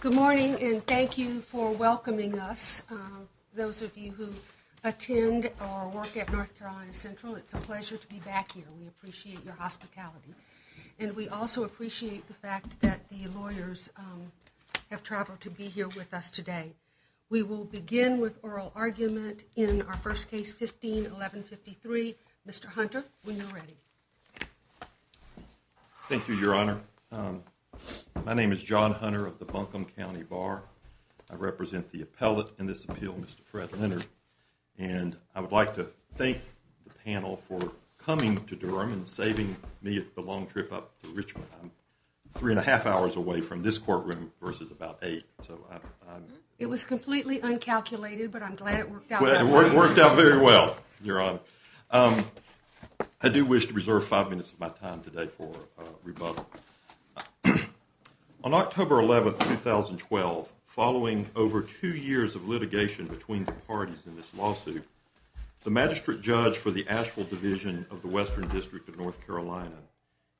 Good morning, and thank you for welcoming us. Those of you who attend or work at North Carolina Central, it's a pleasure to be back here. We appreciate your hospitality, and we also appreciate the fact that the lawyers have traveled to be here with us today. We will begin with oral argument in our first case, 15-1153. Mr. Hunter, when you're ready. Thank you, Your Honor. My name is John Hunter of the Buncombe County Bar. I represent the appellate in this appeal, Mr. Fred Leonard. And I would like to thank the panel for coming to Durham and saving me the long trip up to Richmond. I'm three and a half hours away from this courtroom versus about eight. It was completely uncalculated, but I'm glad it worked out. It worked out very well, Your Honor. I do wish to reserve five minutes of my time today for rebuttal. On October 11, 2012, following over two years of litigation between the parties in this lawsuit, the magistrate judge for the Asheville Division of the Western District of North Carolina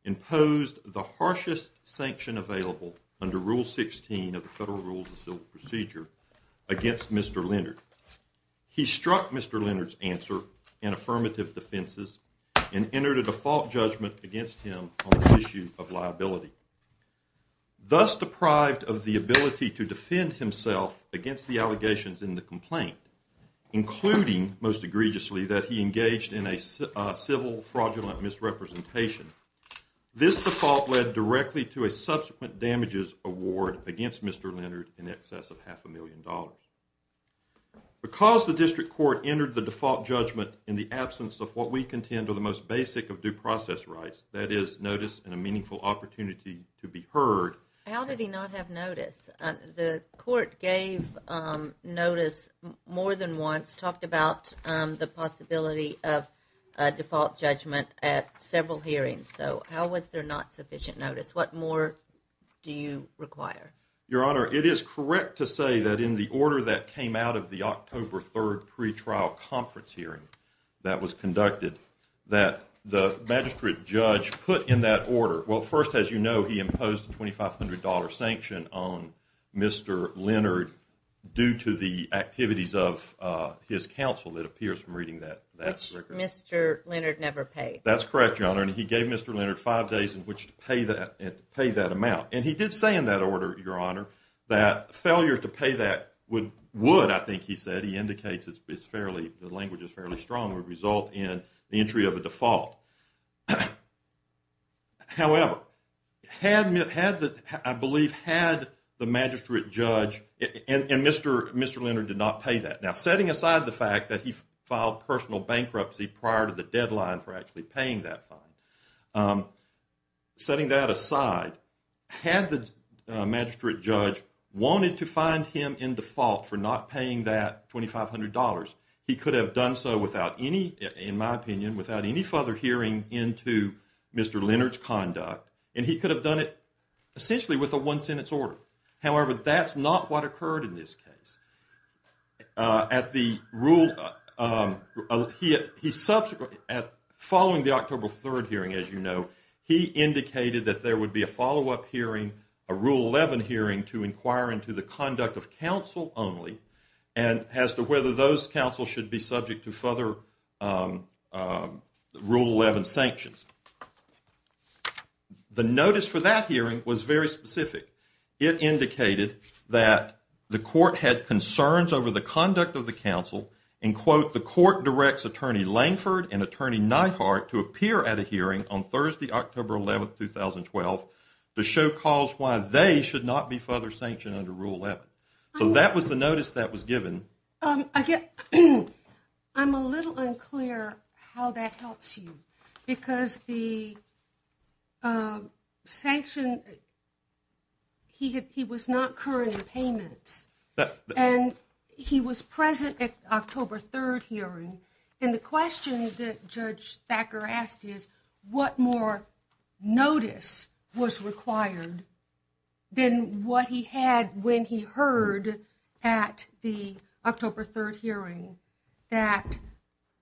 imposed the harshest sanction available under Rule 16 of the Federal Rules of Civil Procedure against Mr. Leonard. He struck Mr. Leonard's answer in affirmative defenses and entered a default judgment against him on the issue of liability. Thus deprived of the ability to defend himself against the allegations in the complaint, including, most egregiously, that he engaged in a civil fraudulent misrepresentation, this default led directly to a subsequent damages award against Mr. Leonard in excess of half a million dollars. Because the district court entered the default judgment in the absence of what we contend are the most basic of due process rights, that is, notice and a meaningful opportunity to be heard. How did he not have notice? The court gave notice more than once, talked about the possibility of a default judgment at several hearings, so how was there not sufficient notice? What more do you require? Your Honor, it is correct to say that in the order that came out of the October 3rd pre-trial conference hearing that was conducted, that the magistrate judge put in that order – well, first, as you know, he imposed a $2,500 sanction on Mr. Leonard due to the activities of his counsel, it appears from reading that record. Which Mr. Leonard never paid. That's correct, Your Honor, and he gave Mr. Leonard five days in which to pay that amount. And he did say in that order, Your Honor, that failure to pay that would, I think he said, he indicates the language is fairly strong, would result in the entry of a default. However, had, I believe, had the magistrate judge – and Mr. Leonard did not pay that. Now, setting aside the fact that he filed personal bankruptcy prior to the deadline for actually paying that fine, setting that aside, had the magistrate judge wanted to find him in default for not paying that $2,500, he could have done so without any, in my opinion, without any further hearing from Mr. Leonard. Without any further hearing into Mr. Leonard's conduct, and he could have done it essentially with a one-sentence order. However, that's not what occurred in this case. He subsequently, following the October 3rd hearing, as you know, he indicated that there would be a follow-up hearing, a Rule 11 hearing, to inquire into the conduct of counsel only and as to whether those counsels should be subject to further Rule 11 sanctions. The notice for that hearing was very specific. It indicated that the court had concerns over the conduct of the counsel and, quote, the court directs Attorney Langford and Attorney Neidhart to appear at a hearing on Thursday, October 11th, 2012, to show cause why they should not be further sanctioned under Rule 11. So that was the notice that was given. Again, I'm a little unclear how that helps you because the sanction, he was not current in payments and he was present at the October 3rd hearing and the question that Judge Thacker asked is what more notice was required than what he had when he heard at the October 3rd hearing that,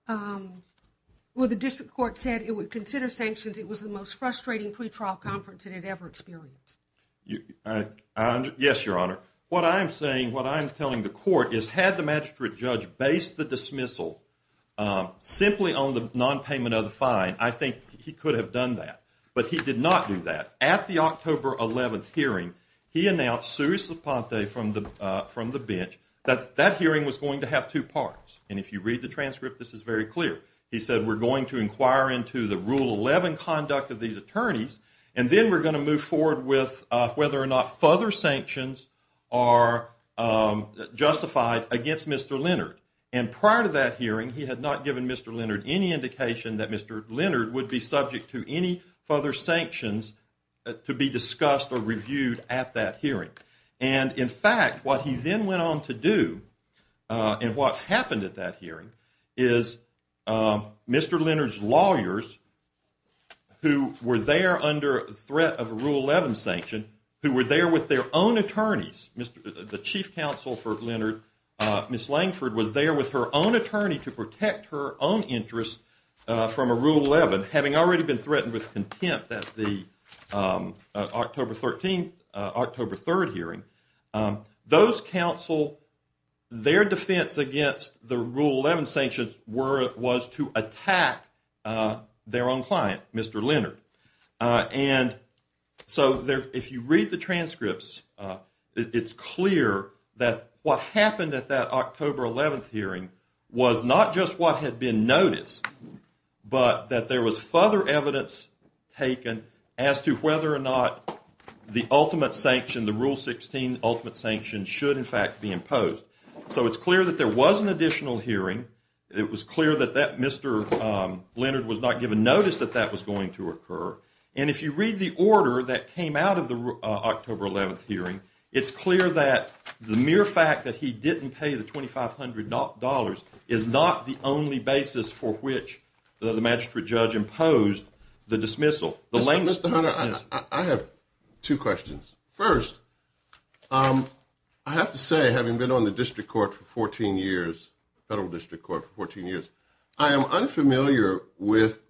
well, the district court said it would consider sanctions. It was the most frustrating pretrial conference it had ever experienced. Yes, Your Honor. What I'm saying, what I'm telling the court is had the magistrate judge based the dismissal simply on the nonpayment of the fine, I think he could have done that. But he did not do that. At the October 11th hearing, he announced Sue Saponte from the bench that that hearing was going to have two parts. And if you read the transcript, this is very clear. He said we're going to inquire into the Rule 11 conduct of these attorneys and then we're going to move forward with whether or not further sanctions are justified against Mr. Leonard. And prior to that hearing, he had not given Mr. Leonard any indication that Mr. Leonard would be subject to any further sanctions to be discussed or reviewed at that hearing. And, in fact, what he then went on to do and what happened at that hearing is Mr. Leonard's lawyers, who were there under threat of a Rule 11 sanction, who were there with their own attorneys, the chief counsel for Leonard, Ms. Langford, was there with her own attorney to protect her own interests from a Rule 11. But having already been threatened with contempt at the October 13th, October 3rd hearing, those counsel, their defense against the Rule 11 sanctions was to attack their own client, Mr. Leonard. And so if you read the transcripts, it's clear that what happened at that October 11th hearing was not just what had been noticed, but that there was further evidence taken as to whether or not the ultimate sanction, the Rule 16 ultimate sanction, should, in fact, be imposed. So it's clear that there was an additional hearing. It was clear that Mr. Leonard was not given notice that that was going to occur. And if you read the order that came out of the October 11th hearing, it's clear that the mere fact that he didn't pay the $2,500 is not the only basis for which the magistrate judge imposed the dismissal. Mr. Hunter, I have 2 questions. First, I have to say, having been on the district court for 14 years, federal district court for 14 years, I am unfamiliar with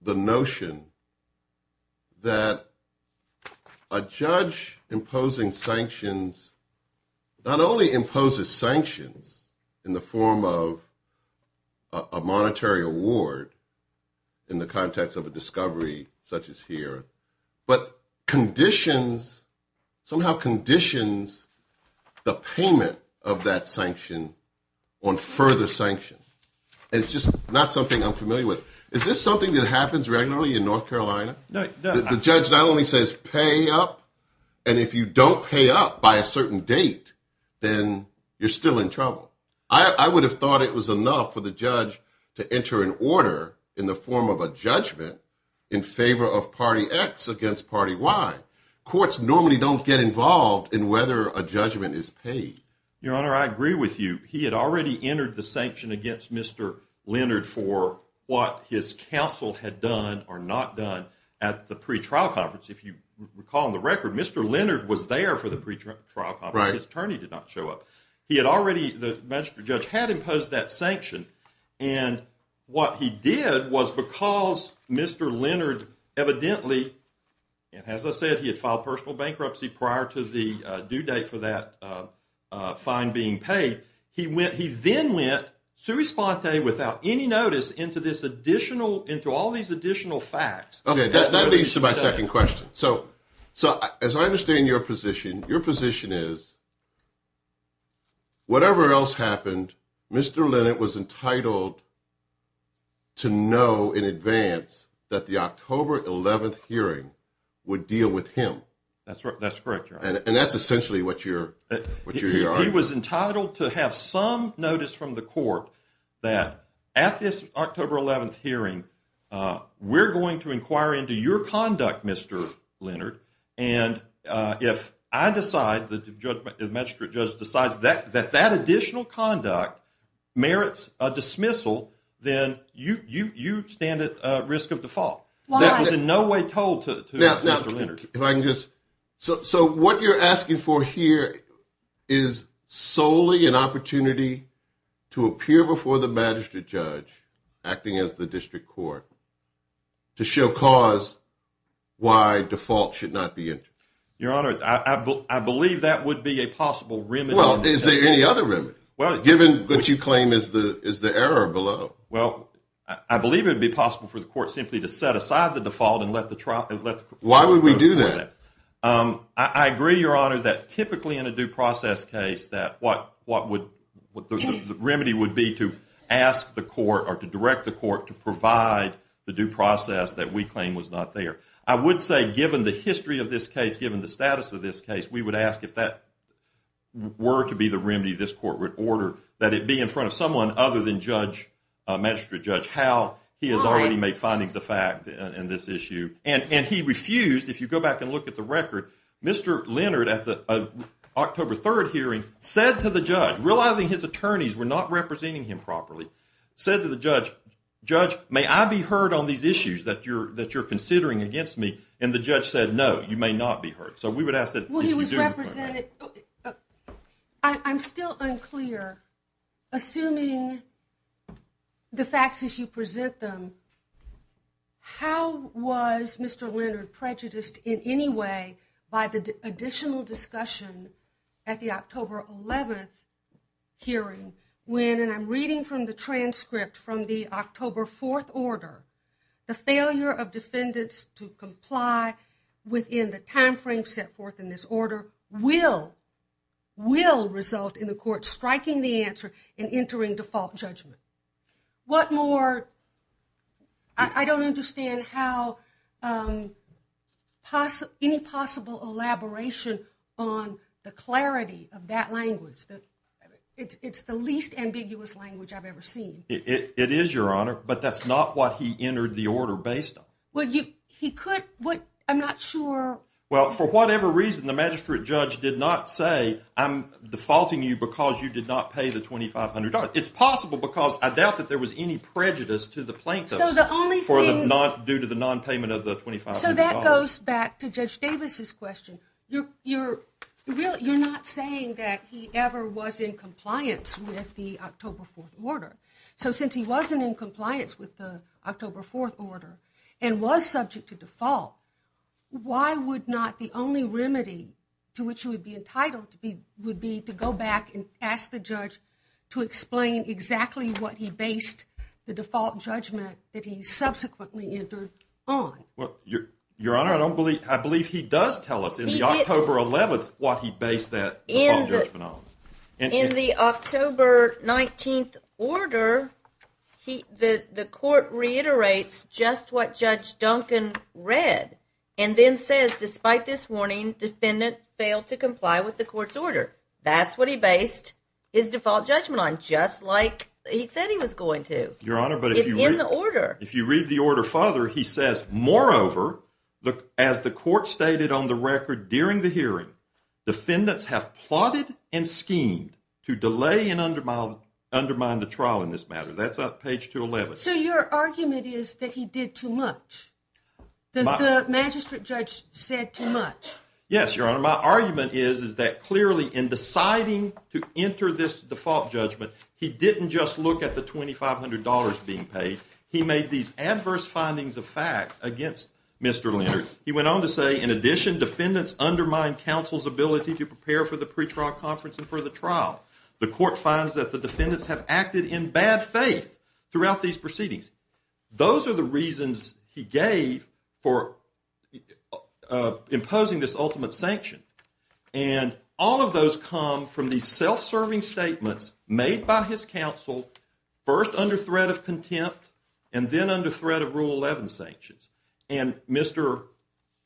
the notion that a judge imposing sanctions not only imposes sanctions in the form of a monetary award in the context of a discovery. Such as here, but conditions somehow conditions the payment of that sanction on further sanction. It's just not something I'm familiar with. Is this something that happens regularly in North Carolina? The judge not only says pay up, and if you don't pay up by a certain date, then you're still in trouble. I would have thought it was enough for the judge to enter an order in the form of a judgment in favor of party X against party Y. Courts normally don't get involved in whether a judgment is paid. Your Honor, I agree with you. He had already entered the sanction against Mr. Leonard for what his counsel had done or not done at the pre-trial conference. If you recall in the record, Mr. Leonard was there for the pre-trial conference. His attorney did not show up. He had already, the magistrate judge had imposed that sanction. And what he did was because Mr. Leonard evidently, and as I said, he had filed personal bankruptcy prior to the due date for that fine being paid. He went, he then went to respond without any notice into this additional into all these additional facts. Okay, that leads to my 2nd question. So, so, as I understand your position, your position is. Whatever else happened, Mr. Leonard was entitled to know in advance that the October 11th hearing would deal with him. That's right. That's correct. And that's essentially what you're what you're he was entitled to have some notice from the court. That at this October 11th hearing, we're going to inquire into your conduct, Mr. Leonard. And if I decide that the magistrate judge decides that that additional conduct merits a dismissal, then you, you, you stand at risk of default. I believe that would be a possible remedy. Well, is there any other remedy given that you claim is the, is the error below? Well, I believe it would be possible for the court simply to set aside. Why would we do that? I agree your honor that typically in a due process case that what what would the remedy would be to ask the court or to direct the court to provide the due process that we claim was not there. I would say, given the history of this case, given the status of this case, we would ask if that were to be the remedy this court would order that it be in front of someone other than judge magistrate judge, how he has already made findings of fact in this issue. And he refused. If you go back and look at the record, Mr. Leonard at the October 3rd hearing said to the judge, realizing his attorneys were not representing him properly. Said to the judge, judge, may I be heard on these issues that you're that you're considering against me? And the judge said, no, you may not be hurt. So we would ask that. Well, he was represented. I'm still unclear. Assuming the facts as you present them, how was Mr. Leonard prejudiced in any way by the additional discussion at the October 11th hearing? When and I'm reading from the transcript from the October 4th order. The failure of defendants to comply within the time frame set forth in this order will will result in the court striking the answer and entering default judgment. What more? I don't understand how possible any possible elaboration on the clarity of that language. It's the least ambiguous language I've ever seen. It is your honor. But that's not what he entered the order based on what he could. What? I'm not sure. Well, for whatever reason, the magistrate judge did not say, I'm defaulting you because you did not pay the twenty five hundred dollars. It's possible because I doubt that there was any prejudice to the plaintiff. Not due to the nonpayment of the twenty five. So that goes back to Judge Davis's question. You're you're really you're not saying that he ever was in compliance with the October 4th order. So since he wasn't in compliance with the October 4th order and was subject to default, why would not? The only remedy to which he would be entitled to be would be to go back and ask the judge to explain exactly what he based the default judgment that he subsequently entered on. Well, your your honor, I don't believe I believe he does tell us in the October 11th what he based that in the in the October 19th order. He the the court reiterates just what Judge Duncan read and then says, despite this warning, defendant failed to comply with the court's order. That's what he based his default judgment on. Just like he said he was going to your honor. But if you read the order, if you read the order further, he says, moreover, as the court stated on the record during the hearing, defendants have plotted and schemed to delay and undermine undermine the trial in this case. So your argument is that he did too much. The magistrate judge said too much. Yes, your honor. My argument is, is that clearly in deciding to enter this default judgment, he didn't just look at the twenty five hundred dollars being paid. He made these adverse findings of fact against Mr. Leonard. He went on to say, in addition, defendants undermine counsel's ability to prepare for the pre trial conference and for the trial. The court finds that the defendants have acted in bad faith throughout these proceedings. Those are the reasons he gave for imposing this ultimate sanction. And all of those come from the self-serving statements made by his counsel, first under threat of contempt and then under threat of rule 11 sanctions. And Mr.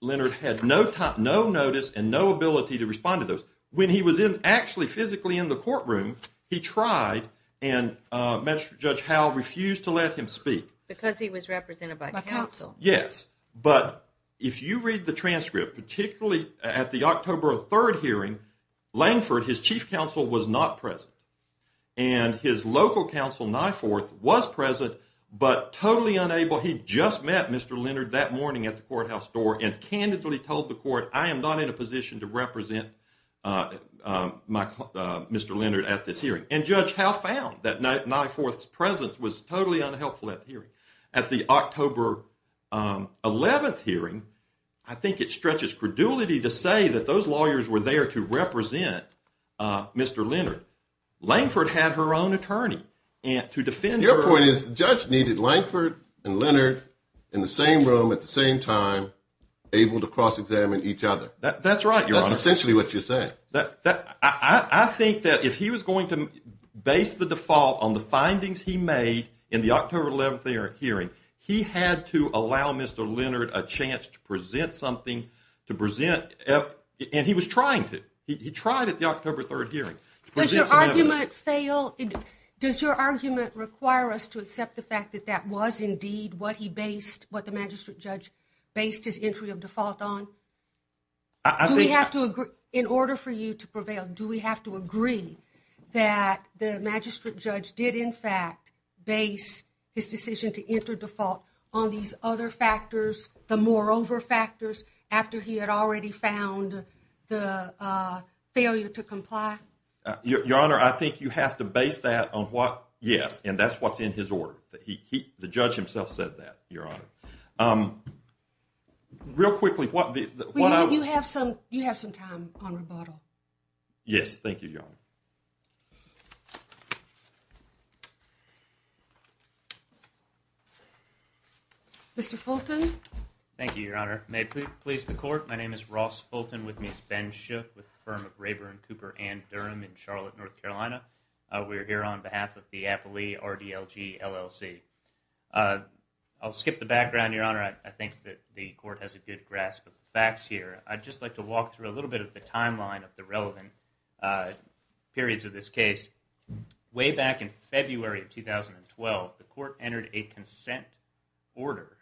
Leonard had no time, no notice and no ability to respond to those when he was in actually physically in the courtroom. He tried and judge how refused to let him speak because he was represented by counsel. Yes. But if you read the transcript, particularly at the October 3rd hearing, Langford, his chief counsel was not present. And his local counsel, my fourth was present, but totally unable. He just met Mr. Leonard that morning at the courthouse door and candidly told the court, I am not in a position to represent my Mr. Leonard at this hearing. At the October 11th hearing, I think it stretches credulity to say that those lawyers were there to represent Mr. Leonard. Langford had her own attorney to defend. Your point is the judge needed Langford and Leonard in the same room at the same time, able to cross examine each other. That's right. But I think that if he was going to base the default on the findings he made in the October 11th hearing, he had to allow Mr. Leonard a chance to present something to present. And he was trying to. He tried at the October 3rd hearing. Does your argument fail? Does your argument require us to accept the fact that that was indeed what he based what the magistrate judge based his entry of default on? In order for you to prevail, do we have to agree that the magistrate judge did in fact base his decision to enter default on these other factors, the moreover factors, after he had already found the failure to comply? Your Honor, I think you have to base that on what – yes, and that's what's in his order. The judge himself said that, Your Honor. Real quickly, what I – You have some time on rebuttal. Yes, thank you, Your Honor. Mr. Fulton. Thank you, Your Honor. May it please the Court, my name is Ross Fulton, with me is Ben Shook with the firm of Rayburn Cooper & Durham in Charlotte, North Carolina. We're here on behalf of the Appley RDLG LLC. I'll skip the background, Your Honor. I think that the Court has a good grasp of the facts here. I'd just like to walk through a little bit of the timeline of the relevant periods of this case. Way back in February of 2012, the Court entered a consent order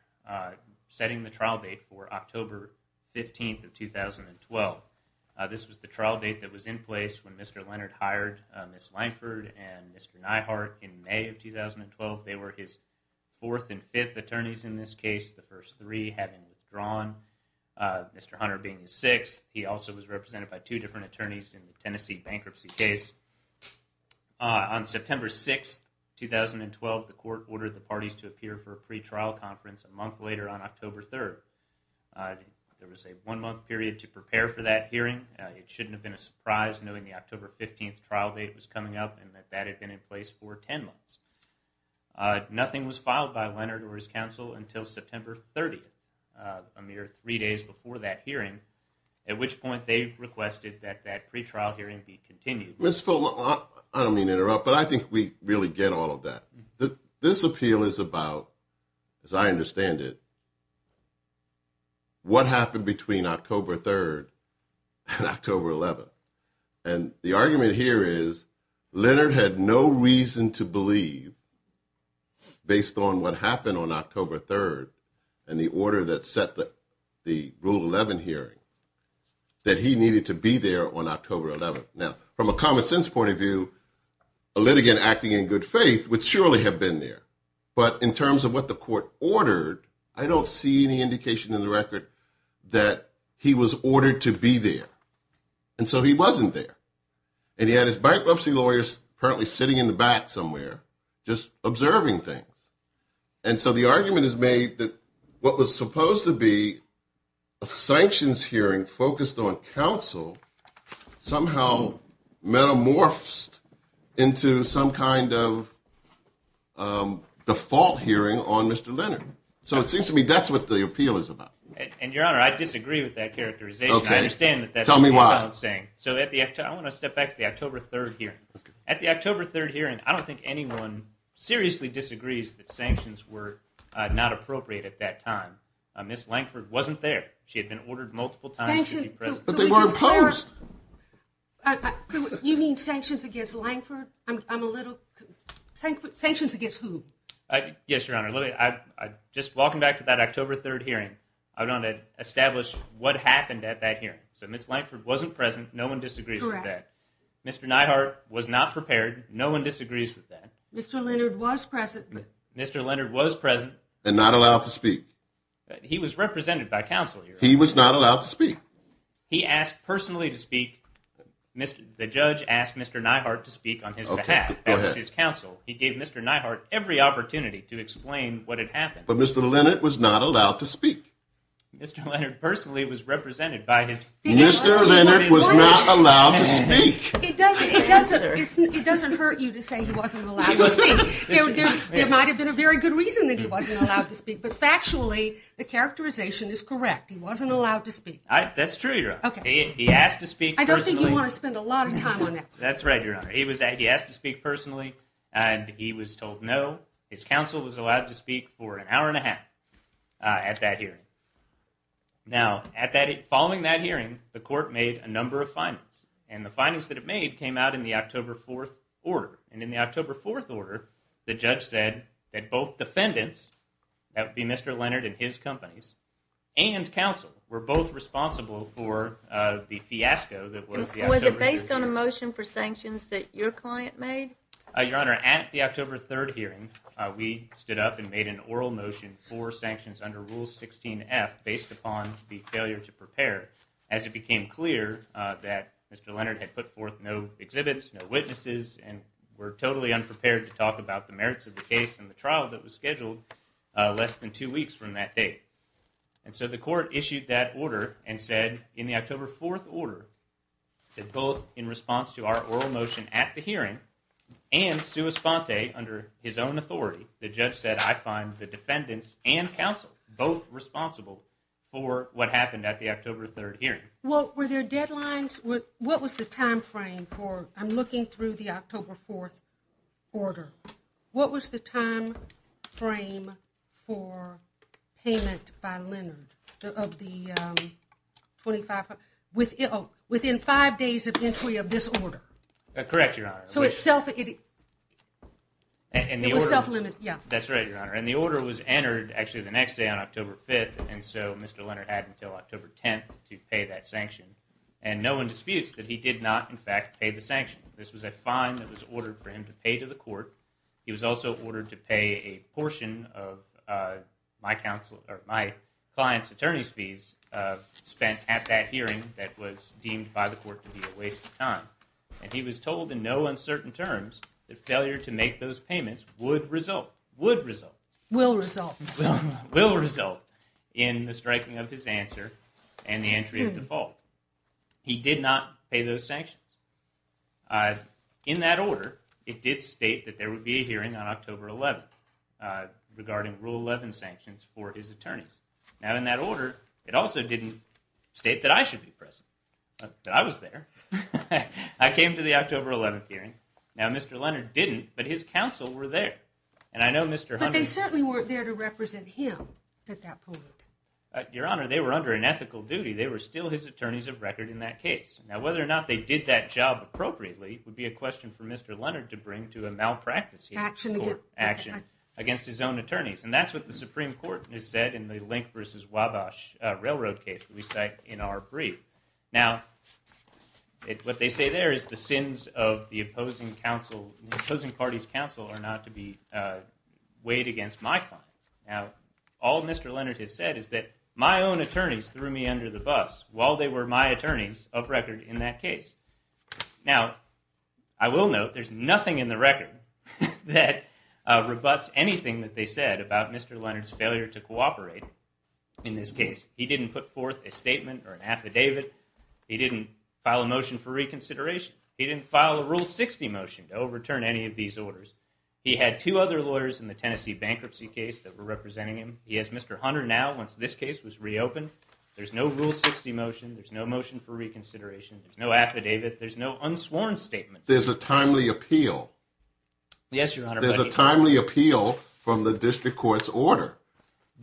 setting the trial date for October 15th of 2012. This was the trial date that was in place when Mr. Leonard hired Ms. Lineford and Mr. Neihart in May of 2012. They were his fourth and fifth attorneys in this case, the first three having withdrawn, Mr. Hunter being the sixth. He also was represented by two different attorneys in the Tennessee bankruptcy case. On September 6th, 2012, the Court ordered the parties to appear for a pretrial conference a month later on October 3rd. There was a one-month period to prepare for that hearing. It shouldn't have been a surprise knowing the October 15th trial date was coming up and that that had been in place for 10 months. Nothing was filed by Leonard or his counsel until September 30th, a mere three days before that hearing, at which point they requested that that pretrial hearing be continued. I don't mean to interrupt, but I think we really get all of that. This appeal is about, as I understand it, what happened between October 3rd and October 11th. And the argument here is Leonard had no reason to believe, based on what happened on October 3rd and the order that set the Rule 11 hearing, that he needed to be there on October 11th. Now, from a common-sense point of view, a litigant acting in good faith would surely have been there. But in terms of what the Court ordered, I don't see any indication in the record that he was ordered to be there. And so he wasn't there. And he had his bankruptcy lawyers currently sitting in the back somewhere just observing things. And so the argument is made that what was supposed to be a sanctions hearing focused on counsel somehow metamorphosed into some kind of default hearing on Mr. Leonard. So it seems to me that's what the appeal is about. And, Your Honor, I disagree with that characterization. Okay. Tell me why. I want to step back to the October 3rd hearing. At the October 3rd hearing, I don't think anyone seriously disagrees that sanctions were not appropriate at that time. Ms. Lankford wasn't there. She had been ordered multiple times to be present. But they were imposed! You mean sanctions against Lankford? Sanctions against who? Yes, Your Honor. Just walking back to that October 3rd hearing, I want to establish what happened at that hearing. So Ms. Lankford wasn't present. No one disagrees with that. Correct. Mr. Neihardt was not prepared. No one disagrees with that. Mr. Leonard was present. Mr. Leonard was present. And not allowed to speak. He was represented by counsel, Your Honor. He was not allowed to speak. He asked personally to speak. The judge asked Mr. Neihardt to speak on his behalf. Okay. Go ahead. That was his counsel. He gave Mr. Neihardt every opportunity to explain what had happened. But Mr. Leonard was not allowed to speak. Mr. Leonard personally was represented by his counsel. Mr. Leonard was not allowed to speak. It doesn't hurt you to say he wasn't allowed to speak. There might have been a very good reason that he wasn't allowed to speak. But factually, the characterization is correct. He wasn't allowed to speak. That's true, Your Honor. He asked to speak personally. I don't think you want to spend a lot of time on that. That's right, Your Honor. He asked to speak personally. And he was told no. His counsel was allowed to speak for an hour and a half at that hearing. Now, following that hearing, the court made a number of findings. And the findings that it made came out in the October 4th order. And in the October 4th order, the judge said that both defendants, that would be Mr. Leonard and his companies, based on a motion for sanctions that your client made? Your Honor, at the October 3rd hearing, we stood up and made an oral motion for sanctions under Rule 16F, based upon the failure to prepare, as it became clear that Mr. Leonard had put forth no exhibits, no witnesses, and were totally unprepared to talk about the merits of the case and the trial that was scheduled less than two weeks from that date. And so the court issued that order and said, in the October 4th order, that both in response to our oral motion at the hearing and sua sponte, under his own authority, the judge said, I find the defendants and counsel both responsible for what happened at the October 3rd hearing. Well, were there deadlines? What was the time frame for? I'm looking through the October 4th order. What was the time frame for payment by Leonard of the 25, within five days of entry of this order? Correct, Your Honor. So it was self-limited. That's right, Your Honor. And the order was entered, actually, the next day on October 5th, and so Mr. Leonard had until October 10th to pay that sanction. And no one disputes that he did not, in fact, pay the sanction. This was a fine that was ordered for him to pay to the court. He was also ordered to pay a portion of my client's attorney's fees spent at that hearing that was deemed by the court to be a waste of time. And he was told in no uncertain terms that failure to make those payments would result, would result. Will result. Will result in the striking of his answer and the entry of default. He did not pay those sanctions. In that order, it did state that there would be a hearing on October 11th regarding Rule 11 sanctions for his attorneys. Now, in that order, it also didn't state that I should be present, that I was there. I came to the October 11th hearing. Now, Mr. Leonard didn't, but his counsel were there. But they certainly weren't there to represent him at that point. Your Honor, they were under an ethical duty. They were still his attorneys of record in that case. Now, whether or not they did that job appropriately would be a question for Mr. Leonard to bring to a malpractice action against his own attorneys. And that's what the Supreme Court has said in the Link versus Wabash railroad case that we cite in our brief. Now, what they say there is the sins of the opposing counsel, the opposing party's counsel are not to be weighed against my client. Now, all Mr. Leonard has said is that my own attorneys threw me under the bus while they were my attorneys of record in that case. Now, I will note there's nothing in the record that rebutts anything that they said about Mr. Leonard's failure to cooperate in this case. He didn't put forth a statement or an affidavit. He didn't file a motion for reconsideration. He didn't file a Rule 60 motion to overturn any of these orders. He had two other lawyers in the Tennessee bankruptcy case that were representing him. He has Mr. Hunter now once this case was reopened. There's no Rule 60 motion. There's no motion for reconsideration. There's no affidavit. There's no unsworn statement. There's a timely appeal. Yes, Your Honor. There's a timely appeal from the district court's order.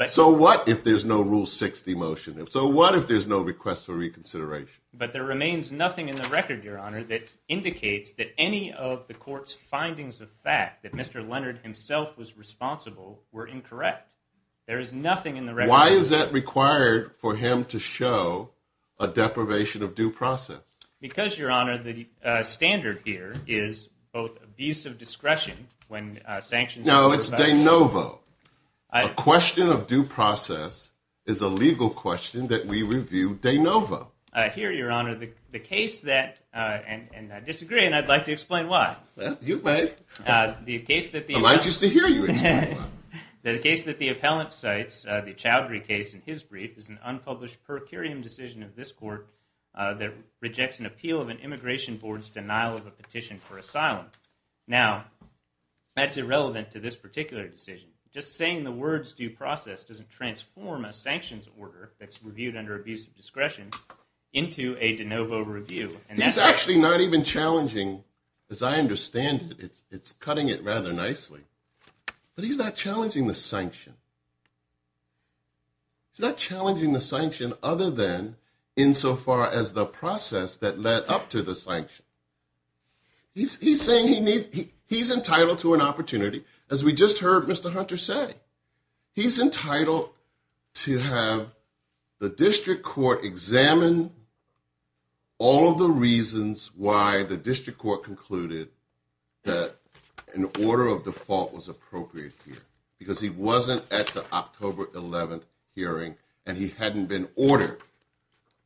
So what if there's no Rule 60 motion? So what if there's no request for reconsideration? But there remains nothing in the record, Your Honor, that indicates that any of the court's findings of fact, that Mr. Leonard himself was responsible, were incorrect. There is nothing in the record. Why is that required for him to show a deprivation of due process? Because, Your Honor, the standard here is both abuse of discretion when sanctions… No, it's de novo. A question of due process is a legal question that we review de novo. Here, Your Honor, the case that—and I disagree, and I'd like to explain why. Well, you may. I'd like just to hear you explain why. The case that the appellant cites, the Chowdhury case in his brief, is an unpublished per curiam decision of this court that rejects an appeal of an immigration board's denial of a petition for asylum. Now, that's irrelevant to this particular decision. Just saying the words due process doesn't transform a sanctions order that's reviewed under abuse of discretion into a de novo review. He's actually not even challenging, as I understand it. It's cutting it rather nicely. But he's not challenging the sanction. He's not challenging the sanction other than insofar as the process that led up to the sanction. He's saying he's entitled to an opportunity. As we just heard Mr. Hunter say, he's entitled to have the district court examine all of the reasons why the district court concluded that an order of default was appropriate here, because he wasn't at the October 11th hearing, and he hadn't been ordered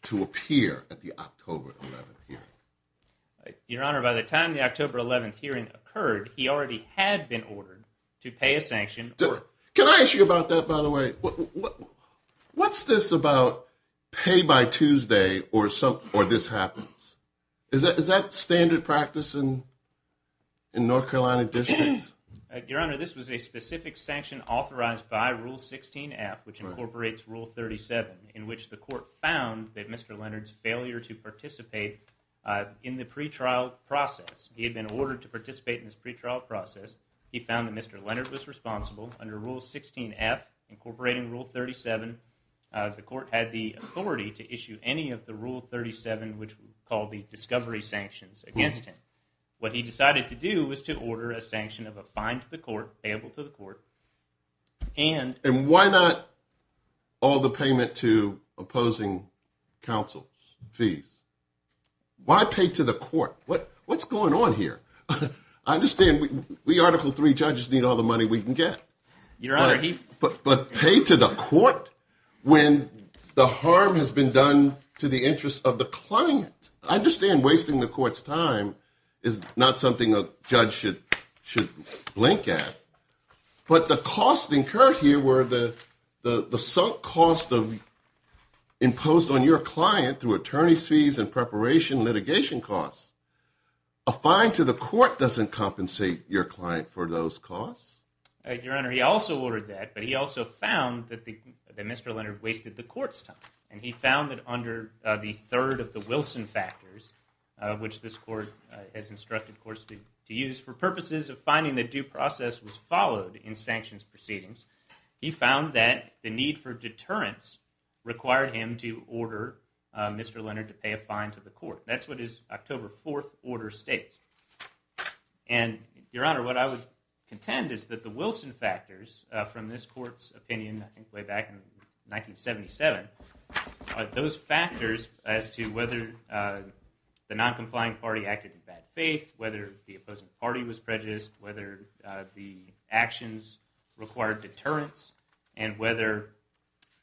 to appear at the October 11th hearing. Your Honor, by the time the October 11th hearing occurred, he already had been ordered to pay a sanction. Can I ask you about that, by the way? What's this about pay by Tuesday or this happens? Is that standard practice in North Carolina districts? Your Honor, this was a specific sanction authorized by Rule 16-F, which incorporates Rule 37, in which the court found that Mr. Leonard's failure to participate in the pretrial process. He had been ordered to participate in this pretrial process. He found that Mr. Leonard was responsible. Under Rule 16-F, incorporating Rule 37, the court had the authority to issue any of the Rule 37, which we call the discovery sanctions, against him. What he decided to do was to order a sanction of a fine to the court, payable to the court. And why not all the payment to opposing counsel's fees? Why pay to the court? What's going on here? I understand we Article III judges need all the money we can get. Your Honor, he... But pay to the court when the harm has been done to the interests of the client. I understand wasting the court's time is not something a judge should blink at. But the costs incurred here were the sunk cost imposed on your client through attorney's fees and preparation litigation costs. A fine to the court doesn't compensate your client for those costs. Your Honor, he also ordered that, but he also found that Mr. Leonard wasted the court's time. And he found that under the third of the Wilson factors, which this court has instructed courts to use, for purposes of finding that due process was followed in sanctions proceedings, he found that the need for deterrence required him to order Mr. Leonard to pay a fine to the court. That's what his October 4th order states. And, Your Honor, what I would contend is that the Wilson factors from this court's opinion, I think way back in 1977, those factors as to whether the non-compliant party acted in bad faith, whether the opposing party was prejudiced, whether the actions required deterrence, and whether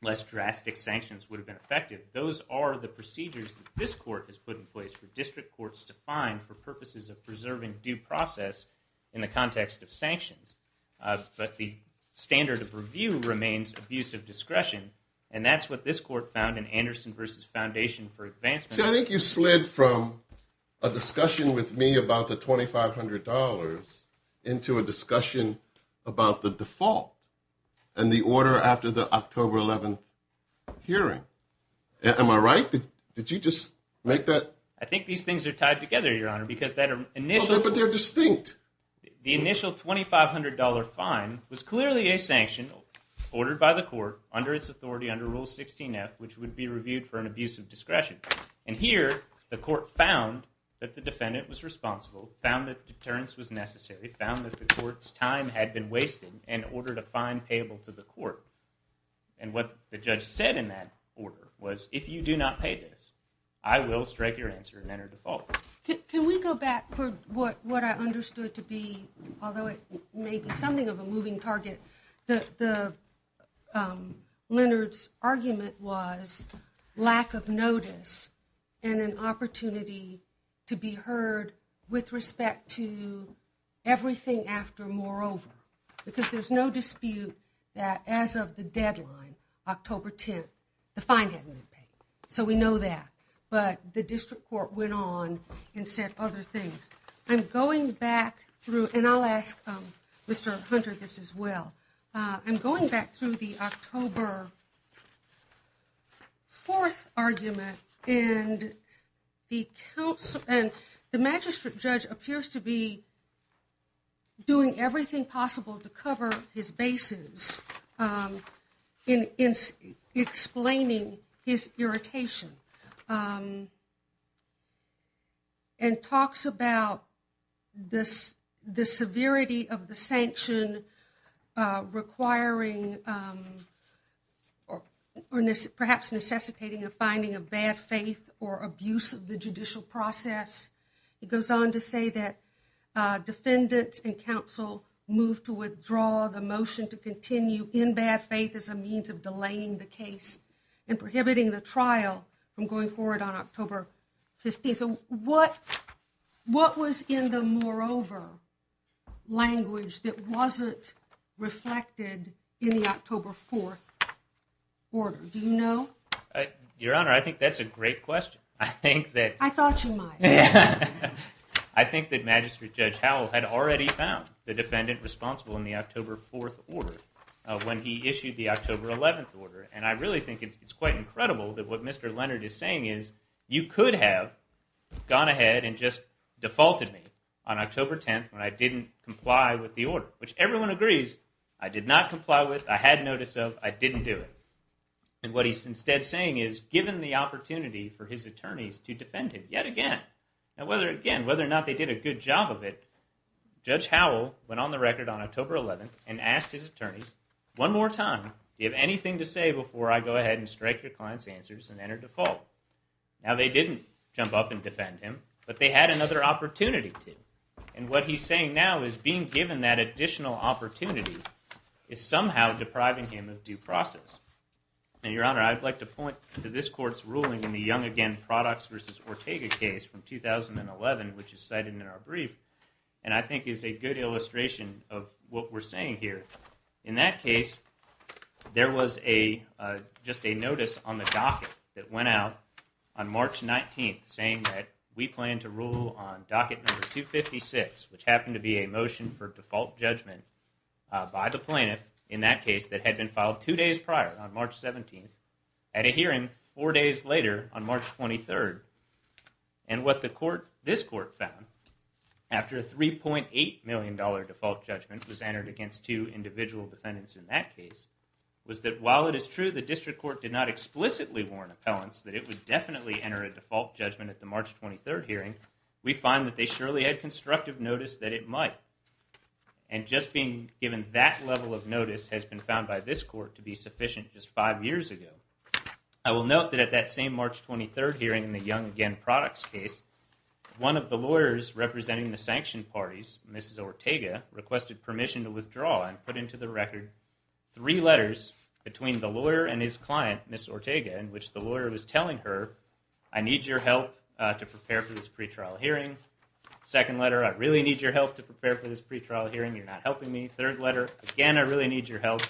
less drastic sanctions would have been effective, those are the procedures that this court has put in place for district courts to find for purposes of preserving due process in the context of sanctions. But the standard of review remains abuse of discretion. And that's what this court found in Anderson v. Foundation for Advancement. I think you slid from a discussion with me about the $2,500 into a discussion about the default and the order after the October 11th hearing. Am I right? Did you just make that? I think these things are tied together, Your Honor, because that initial... But they're distinct. The initial $2,500 fine was clearly a sanction ordered by the court under its authority under Rule 16F, which would be reviewed for an abuse of discretion. And here, the court found that the defendant was responsible, found that deterrence was necessary, found that the court's time had been wasted in order to find payable to the court. And what the judge said in that order was, if you do not pay this, I will strike your answer and enter default. Can we go back for what I understood to be, although it may be something of a moving target, that Leonard's argument was lack of notice and an opportunity to be heard with respect to everything after moreover. Because there's no dispute that as of the deadline, October 10th, the fine hadn't been paid. So we know that. But the district court went on and said other things. I'm going back through, and I'll ask Mr. Hunter this as well. I'm going back through the October 4th argument, and the magistrate judge appears to be doing everything possible to cover his bases in explaining his irritation and talks about the severity of the sanction requiring or perhaps necessitating a finding of bad faith or abuse of the judicial process. It goes on to say that defendants and counsel moved to withdraw the motion to continue in bad faith as a means of delaying the case and prohibiting the trial from going forward on October 15th. What was in the moreover language that wasn't reflected in the October 4th order? Do you know? Your Honor, I think that's a great question. I thought you might. I think that Magistrate Judge Howell had already found the defendant responsible in the October 4th order when he issued the October 11th order. And I really think it's quite incredible that what Mr. Leonard is saying is, you could have gone ahead and just defaulted me on October 10th when I didn't comply with the order. Which everyone agrees, I did not comply with, I had notice of, I didn't do it. And what he's instead saying is, given the opportunity for his attorneys to defend him yet again. Now whether or not they did a good job of it, Judge Howell went on the record on October 11th and asked his attorneys one more time, do you have anything to say before I go ahead and strike your client's answers and enter default? Now they didn't jump up and defend him, but they had another opportunity to. And what he's saying now is being given that additional opportunity is somehow depriving him of due process. Now Your Honor, I'd like to point to this court's ruling in the Young Again Products v. Ortega case from 2011, which is cited in our brief. And I think is a good illustration of what we're saying here. In that case, there was a, just a notice on the docket that went out on March 19th saying that we plan to rule on docket number 256, which happened to be a motion for default judgment by the plaintiff in that case that had been filed two days prior on March 17th, at a hearing four days later on March 23rd. And what the court, this court found, after a $3.8 million default judgment was entered against two individual defendants in that case, was that while it is true the district court did not explicitly warn appellants that it would definitely enter a default judgment at the March 23rd hearing, we find that they surely had constructive notice that it might. And just being given that level of notice has been found by this court to be sufficient just five years ago. I will note that at that same March 23rd hearing in the Young Again Products case, one of the lawyers representing the sanctioned parties, Mrs. Ortega, requested permission to withdraw and put into the record three letters between the lawyer and his client, Ms. Ortega, in which the lawyer was telling her, I need your help to prepare for this pretrial hearing. Second letter, I really need your help to prepare for this pretrial hearing. You're not helping me. Third letter, again, I really need your help.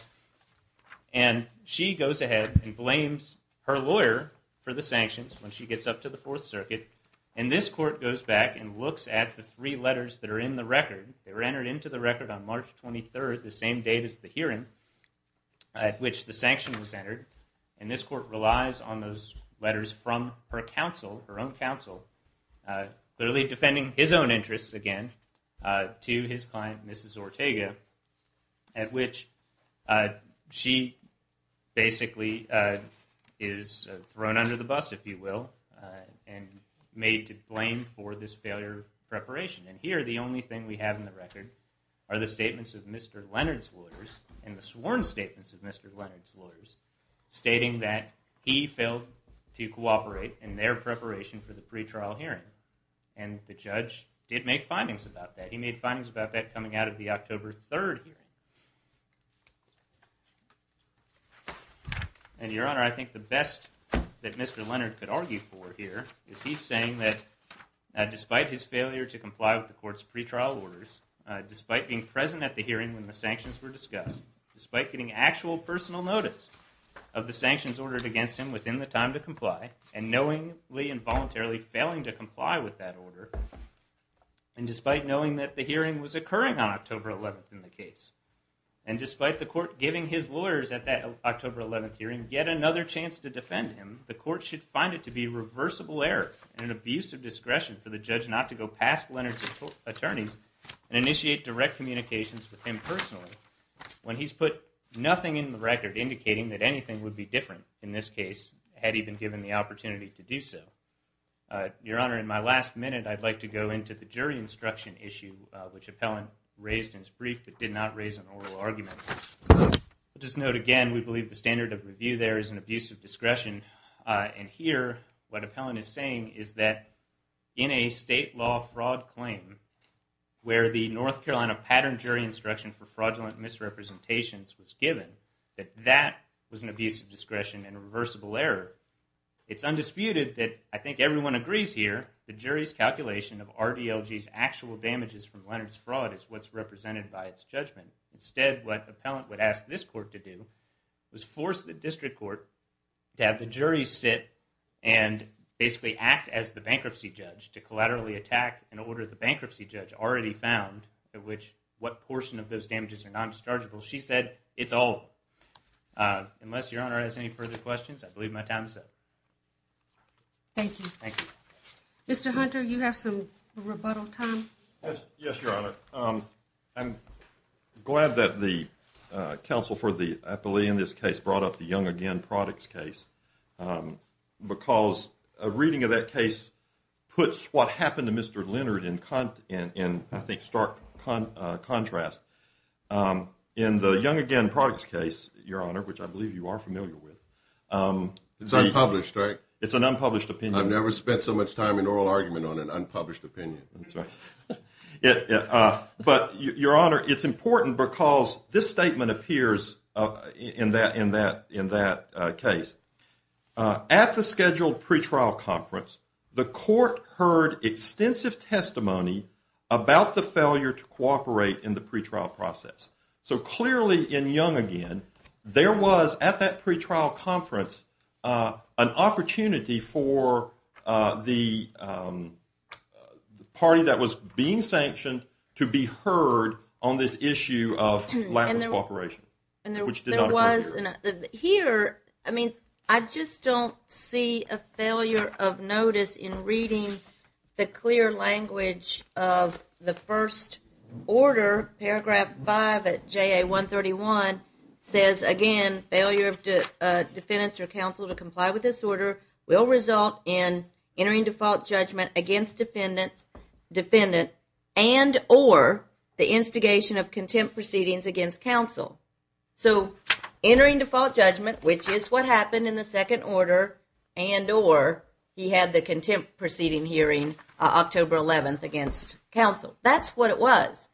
And she goes ahead and blames her lawyer for the sanctions when she gets up to the Fourth Circuit. And this court goes back and looks at the three letters that are in the record. They were entered into the record on March 23rd, the same date as the hearing at which the sanction was entered. And this court relies on those letters from her counsel, her own counsel, clearly defending his own interests, again, to his client, Mrs. Ortega, at which she basically is thrown under the bus, if you will, and made to blame for this failure of preparation. And here, the only thing we have in the record are the statements of Mr. Leonard's lawyers and the sworn statements of Mr. Leonard's lawyers stating that he failed to cooperate in their preparation for the pretrial hearing. And the judge did make findings about that. He made findings about that coming out of the October 3rd hearing. And, Your Honor, I think the best that Mr. Leonard could argue for here is he's saying that despite his failure to comply with the court's pretrial orders, despite being present at the hearing when the sanctions were discussed, despite getting actual personal notice of the sanctions ordered against him within the time to comply, and knowingly and voluntarily failing to comply with that order, and despite knowing that the hearing was occurring on October 11th in the case, and despite the court giving his lawyers at that October 11th hearing yet another chance to defend him, the court should find it to be reversible error and an abuse of discretion for the judge not to go past Leonard's attorneys and initiate direct communications with him personally when he's put nothing in the record indicating that anything would be different in this case had he been given the opportunity to do so. Your Honor, in my last minute, I'd like to go into the jury instruction issue, which Appellant raised in his brief but did not raise an oral argument. Just note again, we believe the standard of review there is an abuse of discretion. And here, what Appellant is saying is that in a state law fraud claim, where the North Carolina pattern jury instruction for fraudulent misrepresentations was given, that that was an abuse of discretion and a reversible error. It's undisputed that, I think everyone agrees here, the jury's calculation of RDLG's actual damages from Leonard's fraud is what's represented by its judgment. Instead, what Appellant would ask this court to do was force the district court to have the jury sit and basically act as the bankruptcy judge to collaterally attack an order the bankruptcy judge already found, what portion of those damages are non-dischargeable. She said it's all. Unless Your Honor has any further questions, I believe my time is up. Thank you. Thank you. Mr. Hunter, you have some rebuttal time? Yes, Your Honor. I'm glad that the counsel for the appellee in this case brought up the Young Again Products case because a reading of that case puts what happened to Mr. Leonard in, I think, stark contrast. In the Young Again Products case, Your Honor, which I believe you are familiar with… It's unpublished, right? It's an unpublished opinion. I've never spent so much time in oral argument on an unpublished opinion. That's right. But, Your Honor, it's important because this statement appears in that case. At the scheduled pretrial conference, the court heard extensive testimony about the failure to cooperate in the pretrial process. So, clearly in Young Again, there was, at that pretrial conference, an opportunity for the party that was being sanctioned to be heard on this issue of lack of cooperation, which did not occur here. Here, I just don't see a failure of notice in reading the clear language of the first order, paragraph 5 of JA 131, says, again, failure of defendants or counsel to comply with this order will result in entering default judgment against defendant and or the instigation of contempt proceedings against counsel. So, entering default judgment, which is what happened in the second order, and or he had the contempt proceeding hearing October 11th against counsel. That's what it was.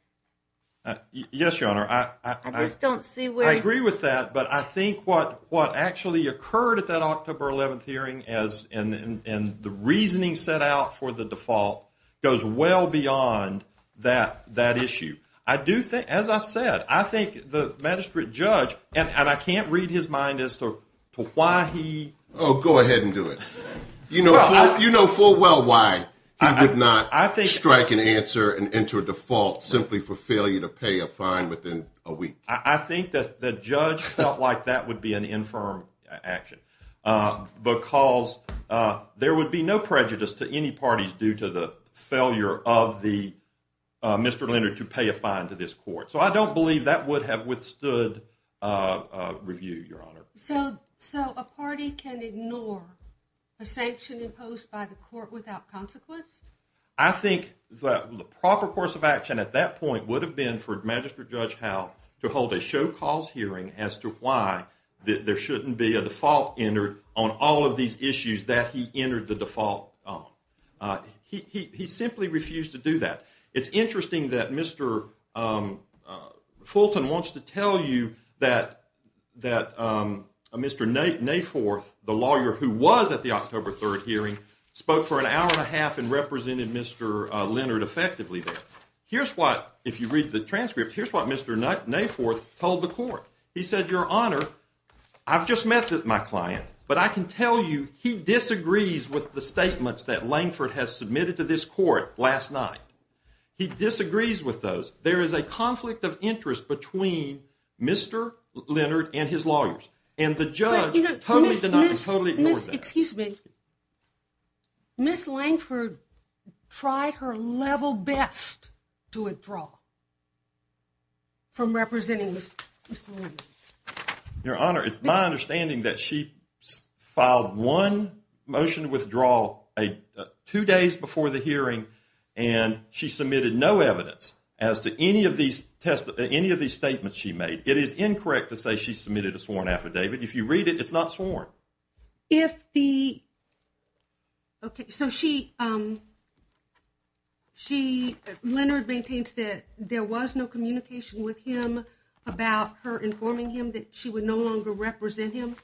Yes, Your Honor. I just don't see where… I agree with that, but I think what actually occurred at that October 11th hearing and the reasoning set out for the default goes well beyond that issue. I do think, as I've said, I think the magistrate judge, and I can't read his mind as to why he… Oh, go ahead and do it. You know full well why he did not strike an answer and enter default simply for failure to pay a fine within a week. I think that the judge felt like that would be an infirm action, because there would be no prejudice to any parties due to the failure of Mr. Leonard to pay a fine to this court. So, I don't believe that would have withstood review, Your Honor. So, a party can ignore a sanction imposed by the court without consequence? I think that the proper course of action at that point would have been for Magistrate Judge Howe to hold a show cause hearing as to why there shouldn't be a default entered on all of these issues that he entered the default on. He simply refused to do that. It's interesting that Mr. Fulton wants to tell you that Mr. Nayforth, the lawyer who was at the October 3rd hearing, spoke for an hour and a half and represented Mr. Leonard effectively there. Here's what, if you read the transcript, here's what Mr. Nayforth told the court. He said, Your Honor, I've just met my client, but I can tell you he disagrees with the statements that Langford has submitted to this court last night. He disagrees with those. There is a conflict of interest between Mr. Leonard and his lawyers. And the judge totally denied, totally ignored that. Excuse me. Ms. Langford tried her level best to withdraw from representing Mr. Leonard. Your Honor, it's my understanding that she filed one motion to withdraw two days before the hearing, and she submitted no evidence as to any of these statements she made. It is incorrect to say she submitted a sworn affidavit. If you read it, it's not sworn. If the – okay, so she – she – Leonard maintains that there was no communication with him about her informing him that she would no longer represent him?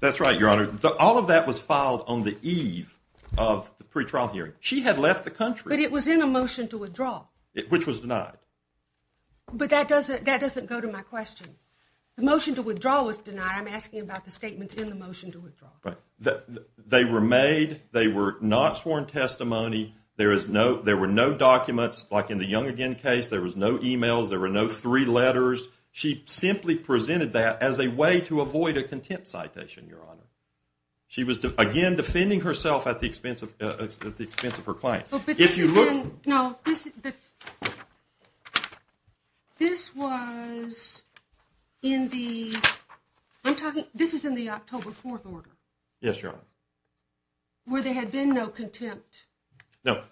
That's right, Your Honor. All of that was filed on the eve of the pretrial hearing. She had left the country. But it was in a motion to withdraw. Which was denied. But that doesn't – that doesn't go to my question. The motion to withdraw was denied. I'm asking about the statements in the motion to withdraw. Right. They were made. They were not sworn testimony. There is no – there were no documents. Like in the Young again case, there was no e-mails. There were no three letters. She simply presented that as a way to avoid a contempt citation, Your Honor. She was, again, defending herself at the expense of – at the expense of her client. If you look – No, this – this was in the – I'm talking – this is in the October 4th order. Yes, Your Honor. Where there had been no contempt. No,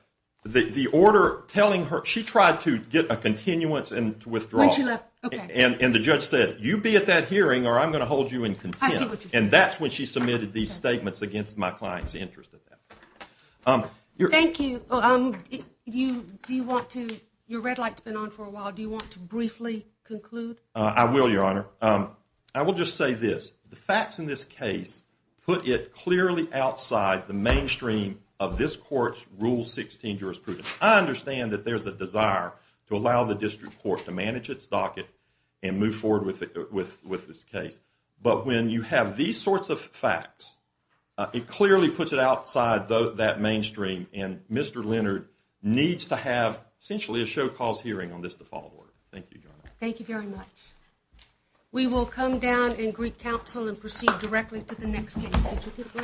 the order telling her – she tried to get a continuance and to withdraw. When she left, okay. And the judge said, you be at that hearing or I'm going to hold you in contempt. I see what you're saying. And that's when she submitted these statements against my client's interest in that. Thank you. You – do you want to – your red light's been on for a while. Do you want to briefly conclude? I will, Your Honor. I will just say this. The facts in this case put it clearly outside the mainstream of this court's Rule 16 jurisprudence. I understand that there's a desire to allow the district court to manage its docket and move forward with this case. But when you have these sorts of facts, it clearly puts it outside that mainstream. And Mr. Leonard needs to have essentially a show-cause hearing on this default order. Thank you, Your Honor. Thank you very much. We will come down in Greek Council and proceed directly to the next case. Could you give a break? I'm sorry. Okay.